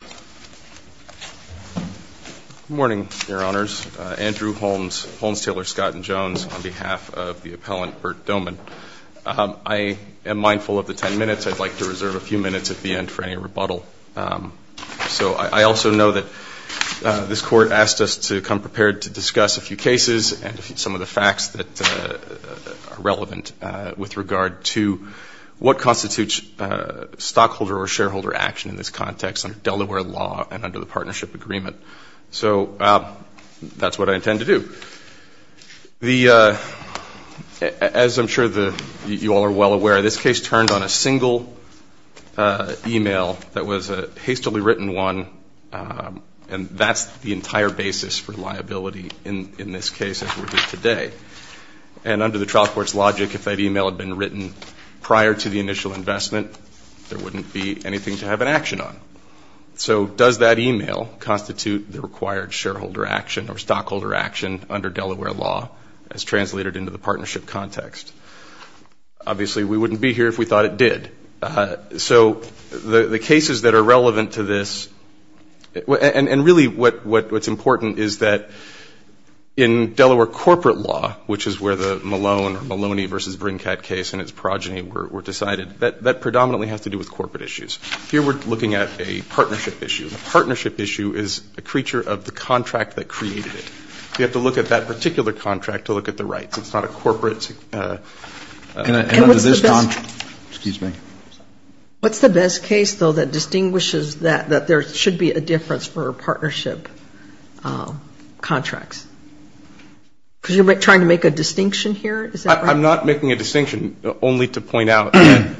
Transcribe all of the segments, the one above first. I am mindful of the ten minutes. I'd like to reserve a few minutes at the end for any rebuttal. So I also know that this Court asked us to come prepared to discuss a few cases and some of the facts that are relevant with regard to what constitutes stockholder or partnership agreement. So that's what I intend to do. As I'm sure you all are well aware, this case turned on a single e-mail that was a hastily written one and that's the entire basis for liability in this case as we're doing today. And under the trial court's logic, if that e-mail had been written prior to the initial investment, there wouldn't be anything to have an action on. So does that e-mail constitute the required shareholder action or stockholder action under Delaware law as translated into the partnership context? Obviously we wouldn't be here if we thought it did. So the cases that are relevant to this, and really what's important is that in Delaware corporate law, which is where the Malone or Maloney v. Brinkhead case and its progeny were decided, that predominantly has to do with corporate issues. Here we're looking at a partnership issue. A partnership issue is a creature of the contract that created it. You have to look at that particular contract to look at the rights. It's not a corporate. And under this contract, excuse me. What's the best case, though, that distinguishes that there should be a difference for partnership contracts? Because you're trying to make a distinction here, is that right? I'm not making a distinction, only to point out that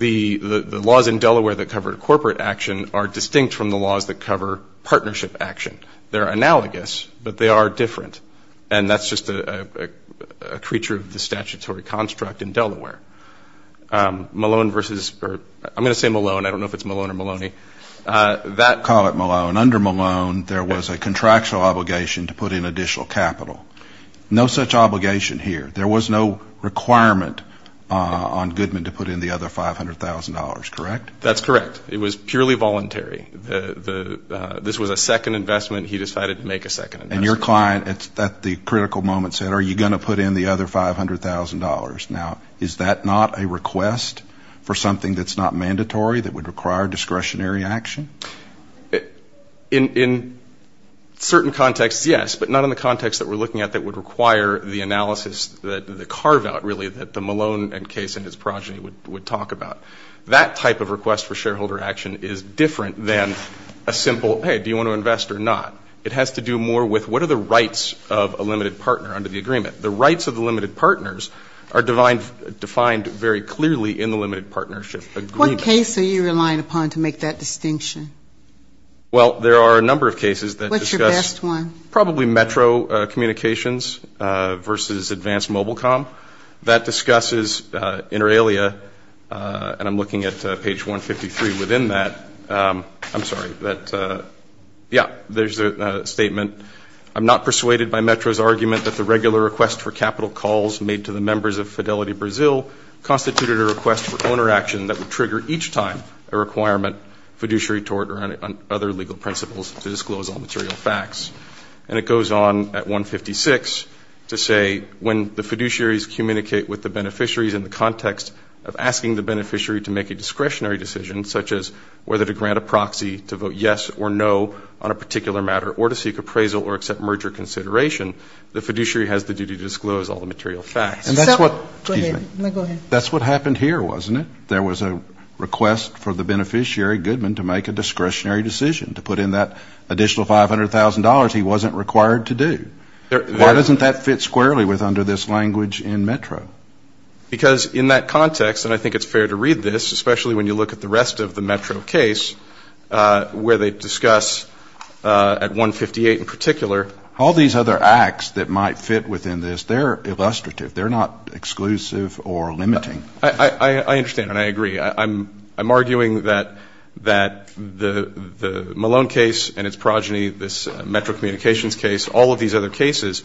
the laws in Delaware that cover corporate action are distinct from the laws that cover partnership action. They're analogous, but they are different. And that's just a creature of the statutory construct in Delaware. Malone versus, or I'm going to say Malone. I don't know if it's Malone or Maloney. Call it Malone. Under Malone, there was a contractual obligation to put in additional capital. No such obligation here. There was no requirement on Goodman to put in the other $500,000, correct? That's correct. It was purely voluntary. This was a second investment. He decided to make a second investment. And your client at the critical moment said, are you going to put in the other $500,000? Now, is that not a request for something that's not mandatory, that would require discretionary action? In certain contexts, yes, but not in the context that we're looking at that would require the analysis, the carve-out, really, that the Malone case and his progeny would talk about. That type of request for shareholder action is different than a simple, hey, do you want to invest or not? It has to do more with what are the rights of a limited partner under the agreement. The rights of the limited partners are defined very clearly in the limited partnership agreement. What case are you relying upon to make that distinction? Well, there are a number of cases that discuss – What's your best one? Probably Metro Communications versus Advanced Mobile Com. That discusses inter alia, and I'm looking at page 153 within that. I'm sorry, that – yeah, there's a statement. I'm not persuaded by Metro's argument that the regular request for capital calls made to the members of Fidelity Brazil constituted a request for owner action that would trigger each time a requirement, fiduciary tort, or any other legal principles to disclose all material facts. And it goes on at 156 to say, when the fiduciaries communicate with the beneficiaries in the context of asking the beneficiary to make a discretionary decision, such as whether to grant a proxy to vote yes or no on a particular matter, or to seek appraisal or accept merger consideration, the fiduciary has the duty to disclose all the material facts. And that's what – Go ahead. Excuse me. No, go ahead. That's what happened here, wasn't it? There was a request for the beneficiary, Goodman, to make a discretionary decision, to put in that additional $500,000 he wasn't required to do. Why doesn't that fit squarely with under this language in Metro? Because in that context, and I think it's fair to read this, especially when you look at the rest of the Metro case, where they discuss, at 158 in particular, All these other acts that might fit within this, they're illustrative. They're not exclusive or limiting. I understand, and I agree. I'm arguing that the Malone case and its progeny, this Metro communications case, all of these other cases,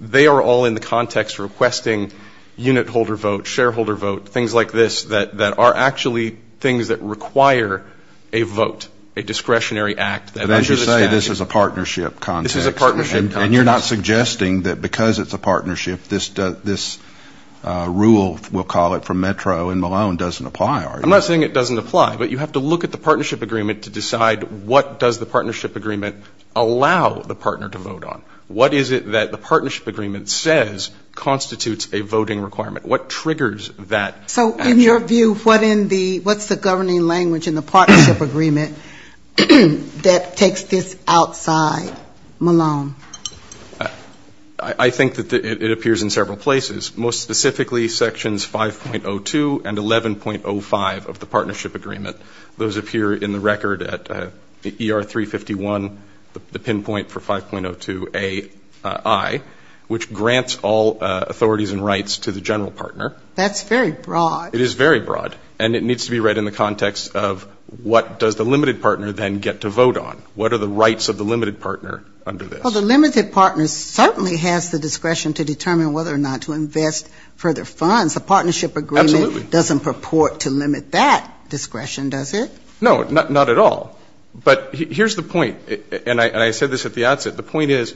they are all in the context requesting unit holder vote, shareholder vote, things like this that are actually things that require a vote, a discretionary act that under the statute. But as you say, this is a partnership context. This is a partnership context. And you're not suggesting that because it's a partnership, this rule, we'll call it, from Metro and Malone doesn't apply, are you? I'm not saying it doesn't apply, but you have to look at the partnership agreement to decide what does the partnership agreement allow the partner to vote on. What is it that the partnership agreement says constitutes a voting requirement? What triggers that action? So in your view, what's the governing language in the partnership agreement that takes this outside Malone? I think that it appears in several places, most specifically sections 5.02 and 11.05 of the partnership agreement. Those appear in the record at ER 351, the pinpoint for 5.02 AI, which grants all authorities and rights to the general partner. That's very broad. It is very broad. And it needs to be read in the context of what does the limited partner then get to vote on? What are the rights of the limited partner under this? Well, the limited partner certainly has the discretion to determine whether or not to invest further funds. The partnership agreement doesn't purport to limit that discretion, does it? No, not at all. But here's the point. And I said this at the outset. The point is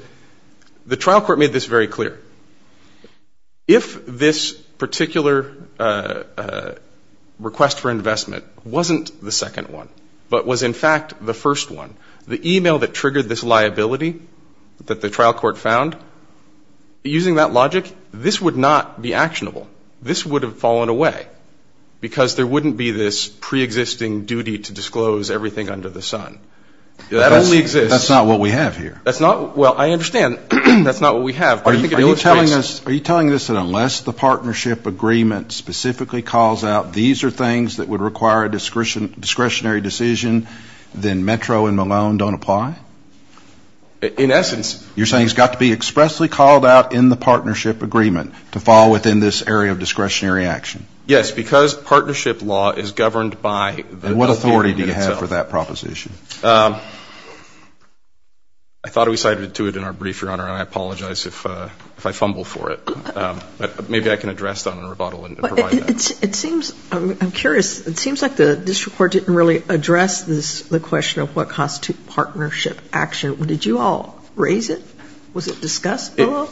the trial court made this very clear. If this particular request for investment wasn't the second one, but was in fact the first one, the email that triggered this liability that the trial court found, using that logic, this would not be actionable. This would have fallen away. Because there wouldn't be this preexisting duty to disclose everything under the sun. That only exists. That's not what we have here. That's not, well, I understand that's not what we have. Are you telling us that unless the partnership agreement specifically calls out these are things that would require a discretionary decision, then Metro and Malone don't apply? In essence. You're saying it's got to be expressly called out in the partnership agreement to fall within this area of discretionary action? Yes, because partnership law is governed by the agreement itself. And what authority do you have for that proposition? I thought we cited it to it in our brief, Your Honor, and I apologize if I fumble for it. But maybe I can address that in a rebuttal and provide that. It seems, I'm curious, it seems like the district court didn't really address this, the question of what constitutes partnership action. Did you all raise it? Was it discussed below?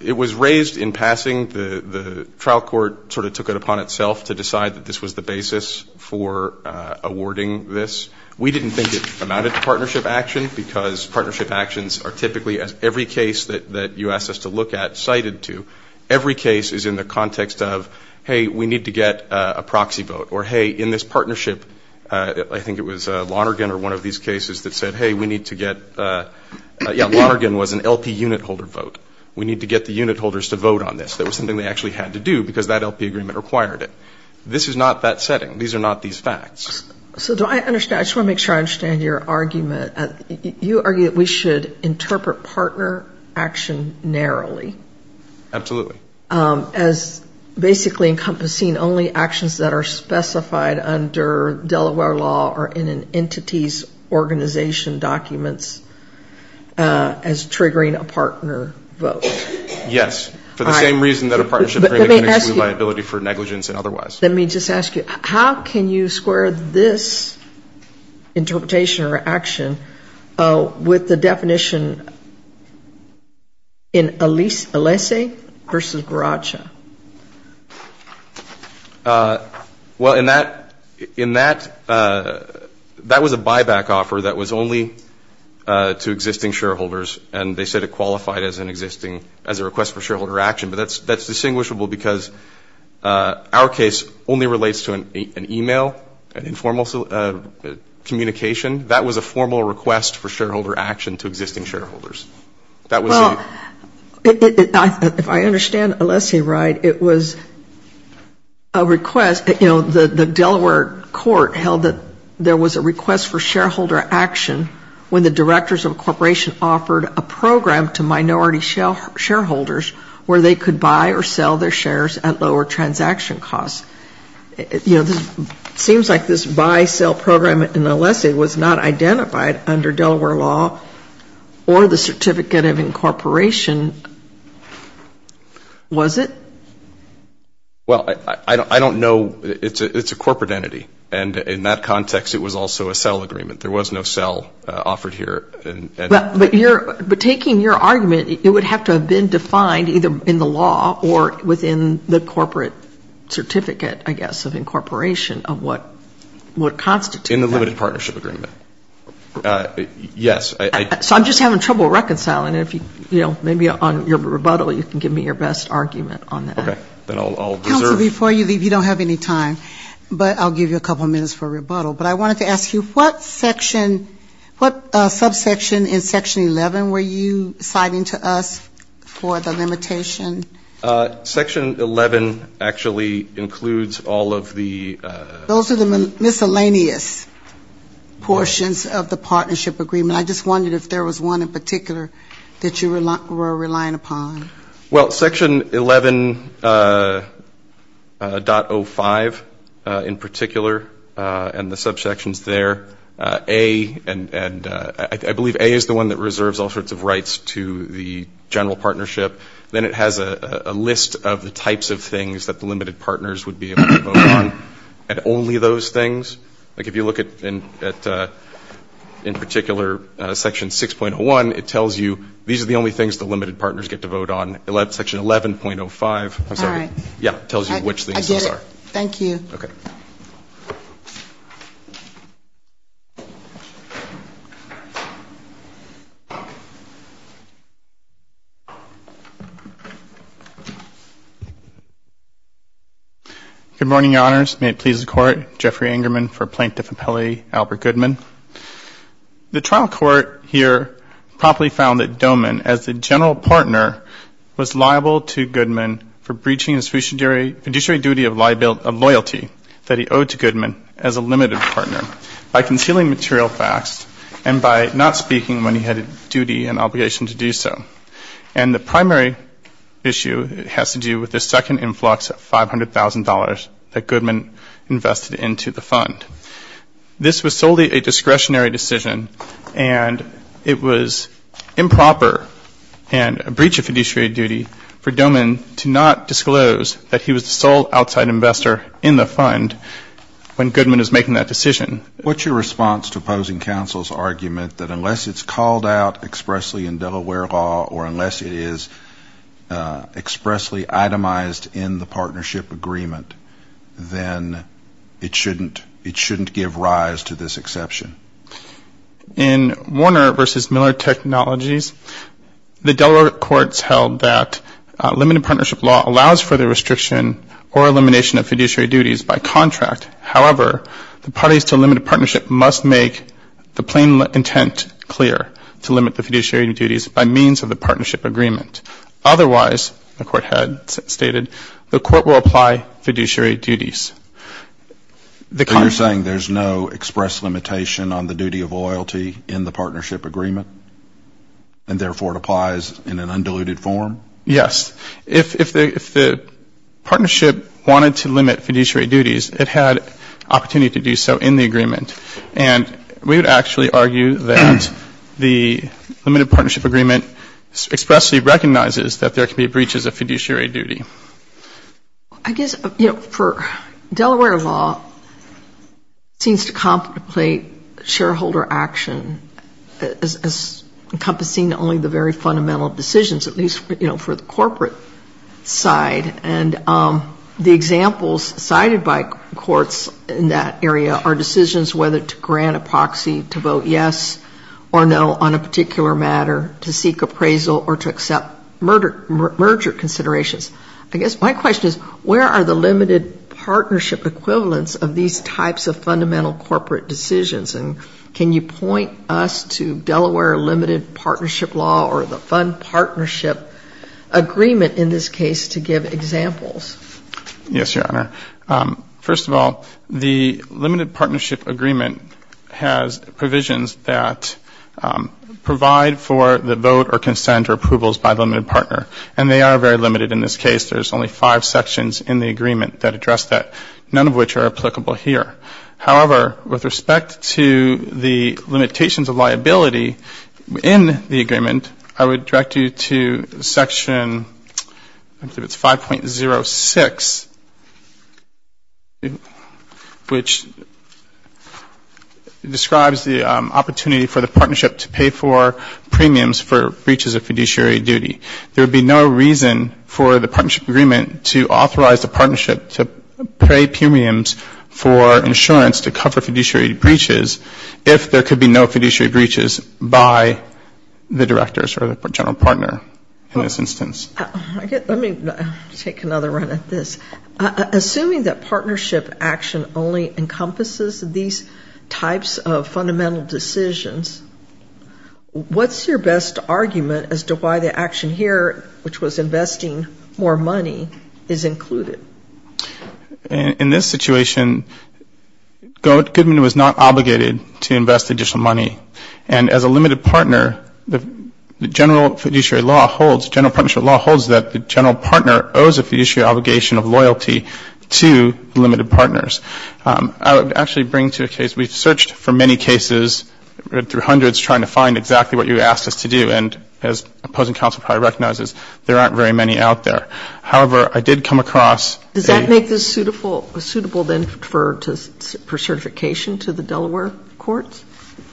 It was raised in passing. The trial court sort of took it upon itself to decide that this was the basis for awarding this. We didn't think it amounted to partnership action, because partnership actions are typically, as every case that you asked us to look at, cited to. Every case is in the context of, hey, we need to get a proxy vote. Or, hey, in this partnership, I think it was Lonergan or one of these cases that said, hey, we need to get, yeah, Lonergan was an LP unit holder vote. We need to get the unit holders to vote on this. That was something they actually had to do, because that LP agreement required it. This is not that setting. These are not these facts. So do I understand, I just want to make sure I understand your argument. You argue that we should interpret partner action narrowly. Absolutely. As basically encompassing only actions that are specified under Delaware law or in an agreement that's triggering a partner vote. Yes. For the same reason that a partnership agreement can exclude liability for negligence and otherwise. Let me just ask you, how can you square this interpretation or action with the definition in Alessi versus Baraccia? Well, in that, in that, that was a buyback offer that was only to existing shareholders and they said it qualified as an existing, as a request for shareholder action. But that's, that's distinguishable because our case only relates to an email, an informal communication. That was a formal request for shareholder action to existing shareholders. Well, if I understand Alessi right, it was a request, you know, the Delaware court held that there was a request for shareholder action when the directors of a corporation offered a program to minority shareholders where they could buy or sell their shares at lower transaction costs. You know, this seems like this buy, sell program in Alessi was not identified under Delaware law or the Certificate of Incorporation, was it? Well, I, I, I don't know. It's a, it's a corporate entity and in that context it was also a sell agreement. There was no sell offered here. But you're, but taking your argument, it would have to have been defined either in the law or within the corporate certificate, I guess, of incorporation of what, what constitutes that. In the limited partnership agreement. Yes, I, I. So I'm just having trouble reconciling it. If you, you know, maybe on your rebuttal you can give me your best argument on that. Okay. Then I'll, I'll deserve. Counsel, before you leave, you don't have any time, but I'll give you a couple minutes for rebuttal. But I wanted to ask you, what section, what subsection in Section 11 were you citing to us for the limitation? Section 11 actually includes all of the. Those are the miscellaneous portions of the partnership agreement. I just wondered if there was one in particular that you were relying upon. Well, Section 11.05 in particular, and the subsections there, A and, and I believe A is the one that reserves all sorts of rights to the general partnership. Then it has a list of the types of things that the limited partners would be able to vote on, and only those things. Like if you look at, at, in particular Section 6.01, it tells you these are the only things the limited partners get to vote on. Section 11.05 tells you which things those are. All right. I get it. Thank you. Good morning, Your Honors. May it please the Court. Jeffrey Ingerman for Plaintiff Appellee Albert Goodman. The trial court here promptly found that Doman, as the general partner, was liable to Goodman for breaching his fiduciary duty of loyalty that he owed to Goodman as a limited partner by concealing material facts and by not speaking when he had a duty and obligation to do so. And the primary issue has to do with the second influx of $500,000 that Goodman invested into the fund. This was solely a discretionary decision, and it was improper and a breach of fiduciary duty for Doman to not disclose that he was the sole outside investor in the fund when Goodman was making that decision. What's your response to opposing counsel's argument that unless it's called out expressly in Delaware law or unless it is expressly itemized in the partnership agreement, then it shouldn't give rise to this exception? In Warner v. Miller Technologies, the Delaware courts held that limited partnership law allows for the restriction or elimination of fiduciary duties by contract. However, the parties to limited partnership must make the plain intent clear to limit the fiduciary duties by means of the partnership agreement. Otherwise, the court had stated, the court will apply fiduciary duties. You're saying there's no express limitation on the duty of loyalty in the partnership agreement, and therefore it applies in an undiluted form? Yes. If the partnership wanted to limit fiduciary duties, it had opportunity to do so in the agreement. And we would actually argue that the limited partnership agreement expressly recognizes that there can be breaches of fiduciary duty. I guess, you know, for Delaware law, it seems to contemplate shareholder action as encompassing only the very fundamental decisions, at least, you know, for the corporate side. And the examples cited by courts in that area are decisions whether to grant a proxy to vote yes or no on a particular matter, to seek appraisal or to accept merger considerations. I guess my question is, where are the limited partnership equivalents of these types of fundamental corporate decisions? And can you point us to Delaware limited partnership law or the fund partnership agreement in this case to give examples? Yes, Your Honor. First of all, the limited partnership agreement has provisions that provide for the vote or consent or approvals by the limited partner. And they are very simple. There's only five sections in the agreement that address that, none of which are applicable here. However, with respect to the limitations of liability in the agreement, I would direct you to Section 5.06, which describes the opportunity for the partnership to pay for premiums for breaches of fiduciary duty. There would be no reason for the partnership agreement to authorize the partnership to pay premiums for insurance to cover fiduciary breaches if there could be no fiduciary breaches by the directors or the general partner in this instance. Let me take another run at this. Assuming that partnership action only encompasses these types of fundamental decisions, what's your best argument as to why the action here, which was investing more money, is included? In this situation, Goodman was not obligated to invest additional money. And as a limited partner, the general fiduciary law holds, general partnership law holds that the general partner owes a fiduciary obligation of loyalty to the limited partners. I would actually bring to the case, we've searched for many cases, read through hundreds trying to find exactly what you asked us to do, and as opposing counsel probably recognizes, there aren't very many out there. However, I did come across a Does that make this suitable then for certification to the Delaware courts?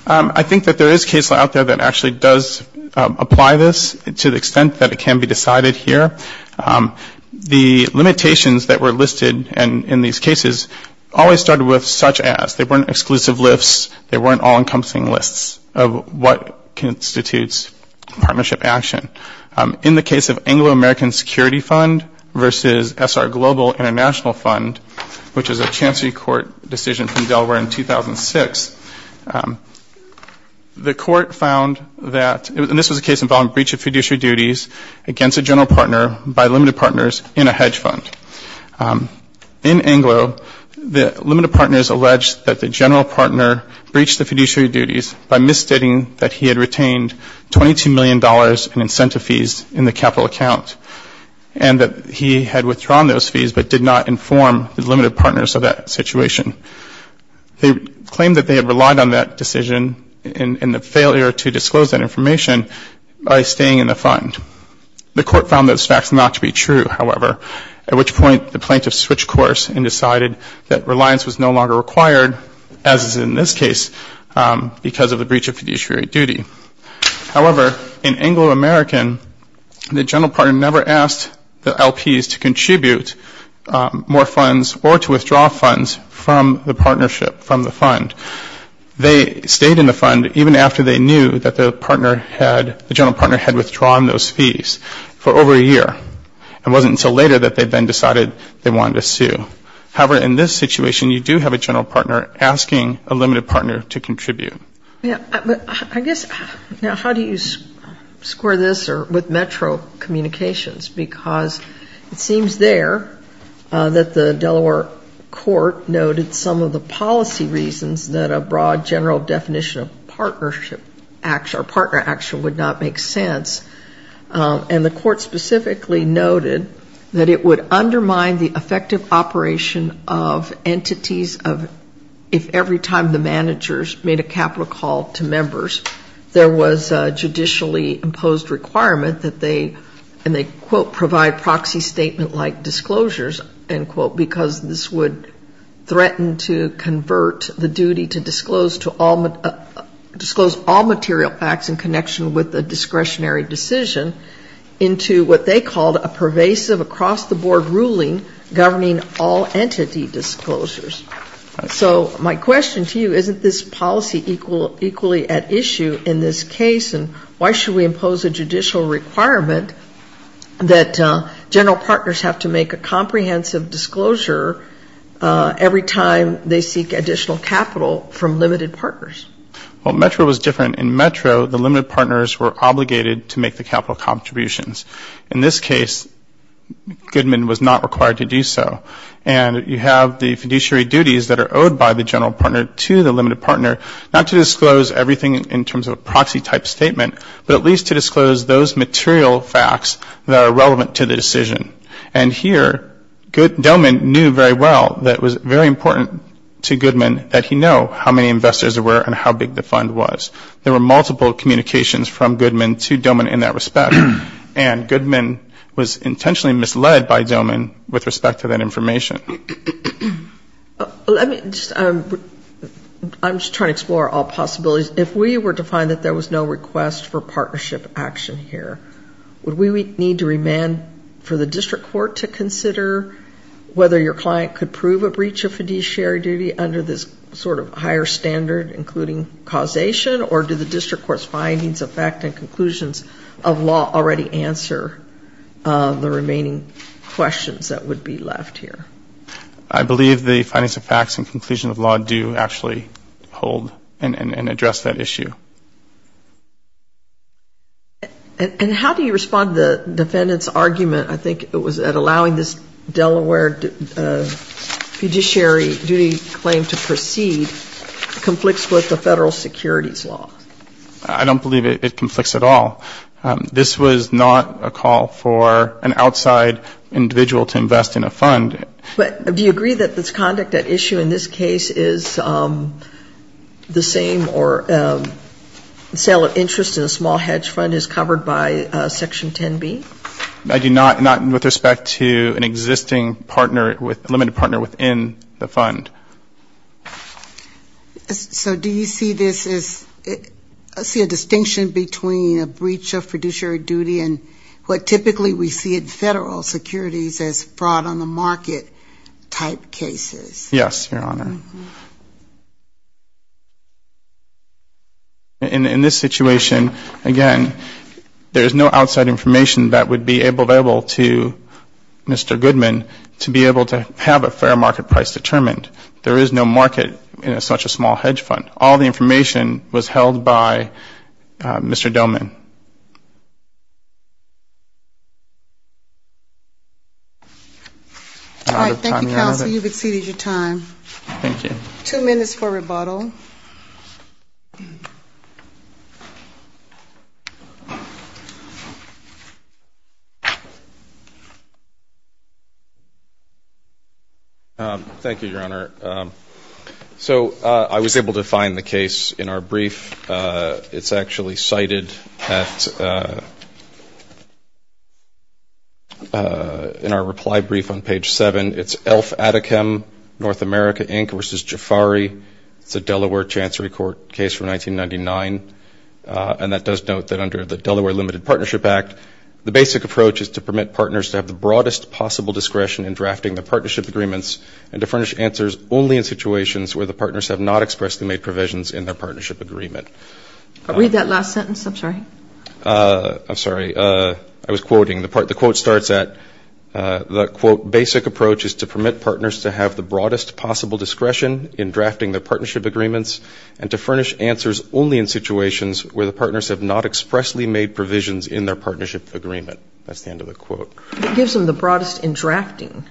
I think that there is a case out there that actually does apply this to the extent that it can be decided here. The limitations that were listed in these cases always started with such as. They weren't exclusive lists. They weren't all encompassing lists of what constitutes partnership action. In the case of Anglo-American Security Fund versus SR Global International Fund, which is a chancery court decision from Delaware in 2006, the court found that, and this was a case involving breach of fiduciary duties against a general partner by limited partners in a hedge fund. In Anglo, the limited partners alleged that the general partner breached the fiduciary duties by misstating that he had retained $22 million in incentive fees in the capital account and that he had withdrawn those fees but did not inform the limited partners of that situation. They claimed that they had relied on that decision and the failure to disclose that information by staying in the fund was facts not to be true, however, at which point the plaintiffs switched course and decided that reliance was no longer required as is in this case because of the breach of fiduciary duty. However, in Anglo-American, the general partner never asked the LPs to contribute more funds or to withdraw funds from the partnership, from the fund. They stayed in the fund even after they knew that the partner had, the general partner had withdrawn those fees for over a year. It wasn't until later that they then decided they wanted to sue. However, in this situation, you do have a general partner asking a limited partner to contribute. Yeah, but I guess, now how do you square this with metro communications because it seems there that the Delaware court noted some of the policy reasons that a broad general definition of partnership action or partner action would not make sense. And the court specifically noted that it would undermine the effective operation of entities of, if every time the managers made a capital call to members, there was a judicially imposed requirement that they, and they quote, provide proxy statement like disclosures, end quote, because this would threaten to convert the duty to disclose to all, disclose all material facts in connection with the discretionary decision into what they called a pervasive across the board ruling governing all entity disclosures. So my question to you, isn't this policy equally at issue in this case and why should we impose a judicial requirement that general partners have to every time they seek additional capital from limited partners? Well, metro was different. In metro, the limited partners were obligated to make the capital contributions. In this case, Goodman was not required to do so. And you have the fiduciary duties that are owed by the general partner to the limited partner, not to disclose everything in terms of a proxy type statement, but at least to disclose those material facts that are relevant to the decision. And here, Goodman knew very well that it was very important to Goodman that he know how many investors there were and how big the fund was. There were multiple communications from Goodman to Goodman in that respect. And Goodman was intentionally misled by Goodman with respect to that information. Let me, I'm just trying to explore all possibilities. If we were to find that there was no request for partnership action here, would we need to remand for the district court to consider whether your client could prove a breach of fiduciary duty under this sort of higher standard including causation? Or do the district court's findings, effect, and conclusions of law already answer the remaining questions that would be left here? I believe the findings, effects, and conclusion of law do actually hold and address that issue. And how do you respond to the defendant's argument, I think it was at allowing this Delaware fiduciary duty claim to proceed conflicts with the federal securities law? I don't believe it conflicts at all. This was not a call for an outside individual to invest in a fund. But do you agree that this conduct at issue in this case is the same or sale of interest in a small hedge fund is covered by Section 10B? I do not, not with respect to an existing partner, limited partner within the fund. So do you see this as, see a distinction between a breach of fiduciary duty and what typically we see in federal securities as fraud on the market type cases? Yes, Your Honor. In this situation, again, there is no outside information that would be available to Mr. Goodman to be able to have a fair market price determined. There is no market in such a small hedge fund. All the information was held by Mr. Dillman. All right. Thank you, counsel. You've exceeded your time. Thank you. Two minutes for rebuttal. Thank you, Your Honor. So I was able to find the case in our brief. It's actually cited at, in our reply brief on page 7. It's Elf Atikam, North America. It's a case in which America Inc. v. Jafari, it's a Delaware Chancery Court case from 1999. And that does note that under the Delaware Limited Partnership Act, the basic approach is to permit partners to have the broadest possible discretion in drafting the partnership agreements and to furnish answers only in situations where the partners have not expressly made provisions in their partnership agreement. Read that last sentence. I'm sorry. I'm sorry. I was quoting. The quote starts at, the quote, basic approach is to permit partners to have the broadest possible discretion in drafting the partnership agreements and to furnish answers only in situations where the partners have not expressly made provisions in their partnership agreement. That's the end of the quote. It gives them the broadest in drafting.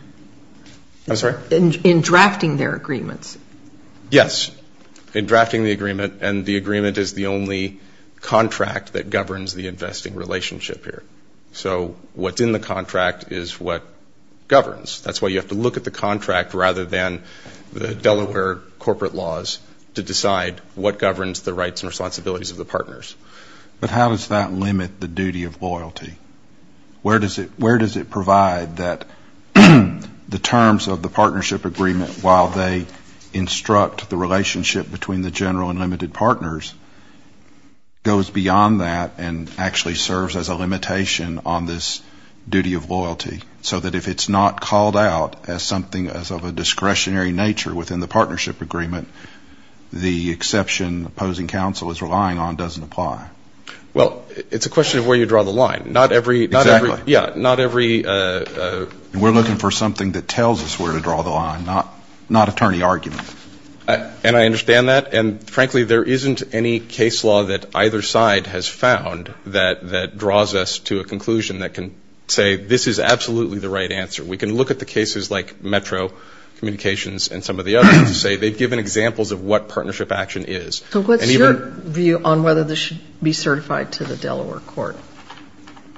I'm sorry? In drafting their agreements. Yes. In drafting the agreement. And the agreement is the only contract that governs the investing relationship here. So what's in the contract is what governs. That's why you have to look at the contract rather than the Delaware corporate laws to decide what governs the rights and responsibilities of the partners. But how does that limit the duty of loyalty? Where does it provide that the terms of the partnership agreement while they instruct the relationship between the general and limited partners goes beyond that and actually serves as a limitation on this duty of loyalty? So that if it's not called out as something as of a discretionary nature within the partnership agreement, the exception opposing counsel is relying on doesn't apply. Well, it's a question of where you draw the line. Not every, not every, yeah, not every And we're looking for something that tells us where to draw the line, not attorney argument. And I understand that. And frankly, there isn't any case law that either side has found that draws us to a conclusion that can say this is absolutely the right answer. We can look at the cases like Metro Communications and some of the others and say they've given examples of what partnership action is. So what's your view on whether this should be certified to the Delaware court?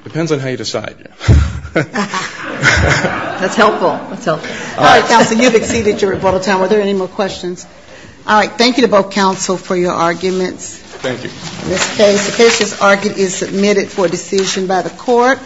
Depends on how you decide. That's helpful. That's helpful. All right, counsel, you've exceeded your rebuttal time. Are there any more questions? All right. Thank you to both counsel for your arguments. Thank you. The case is argued and submitted for decision by the court.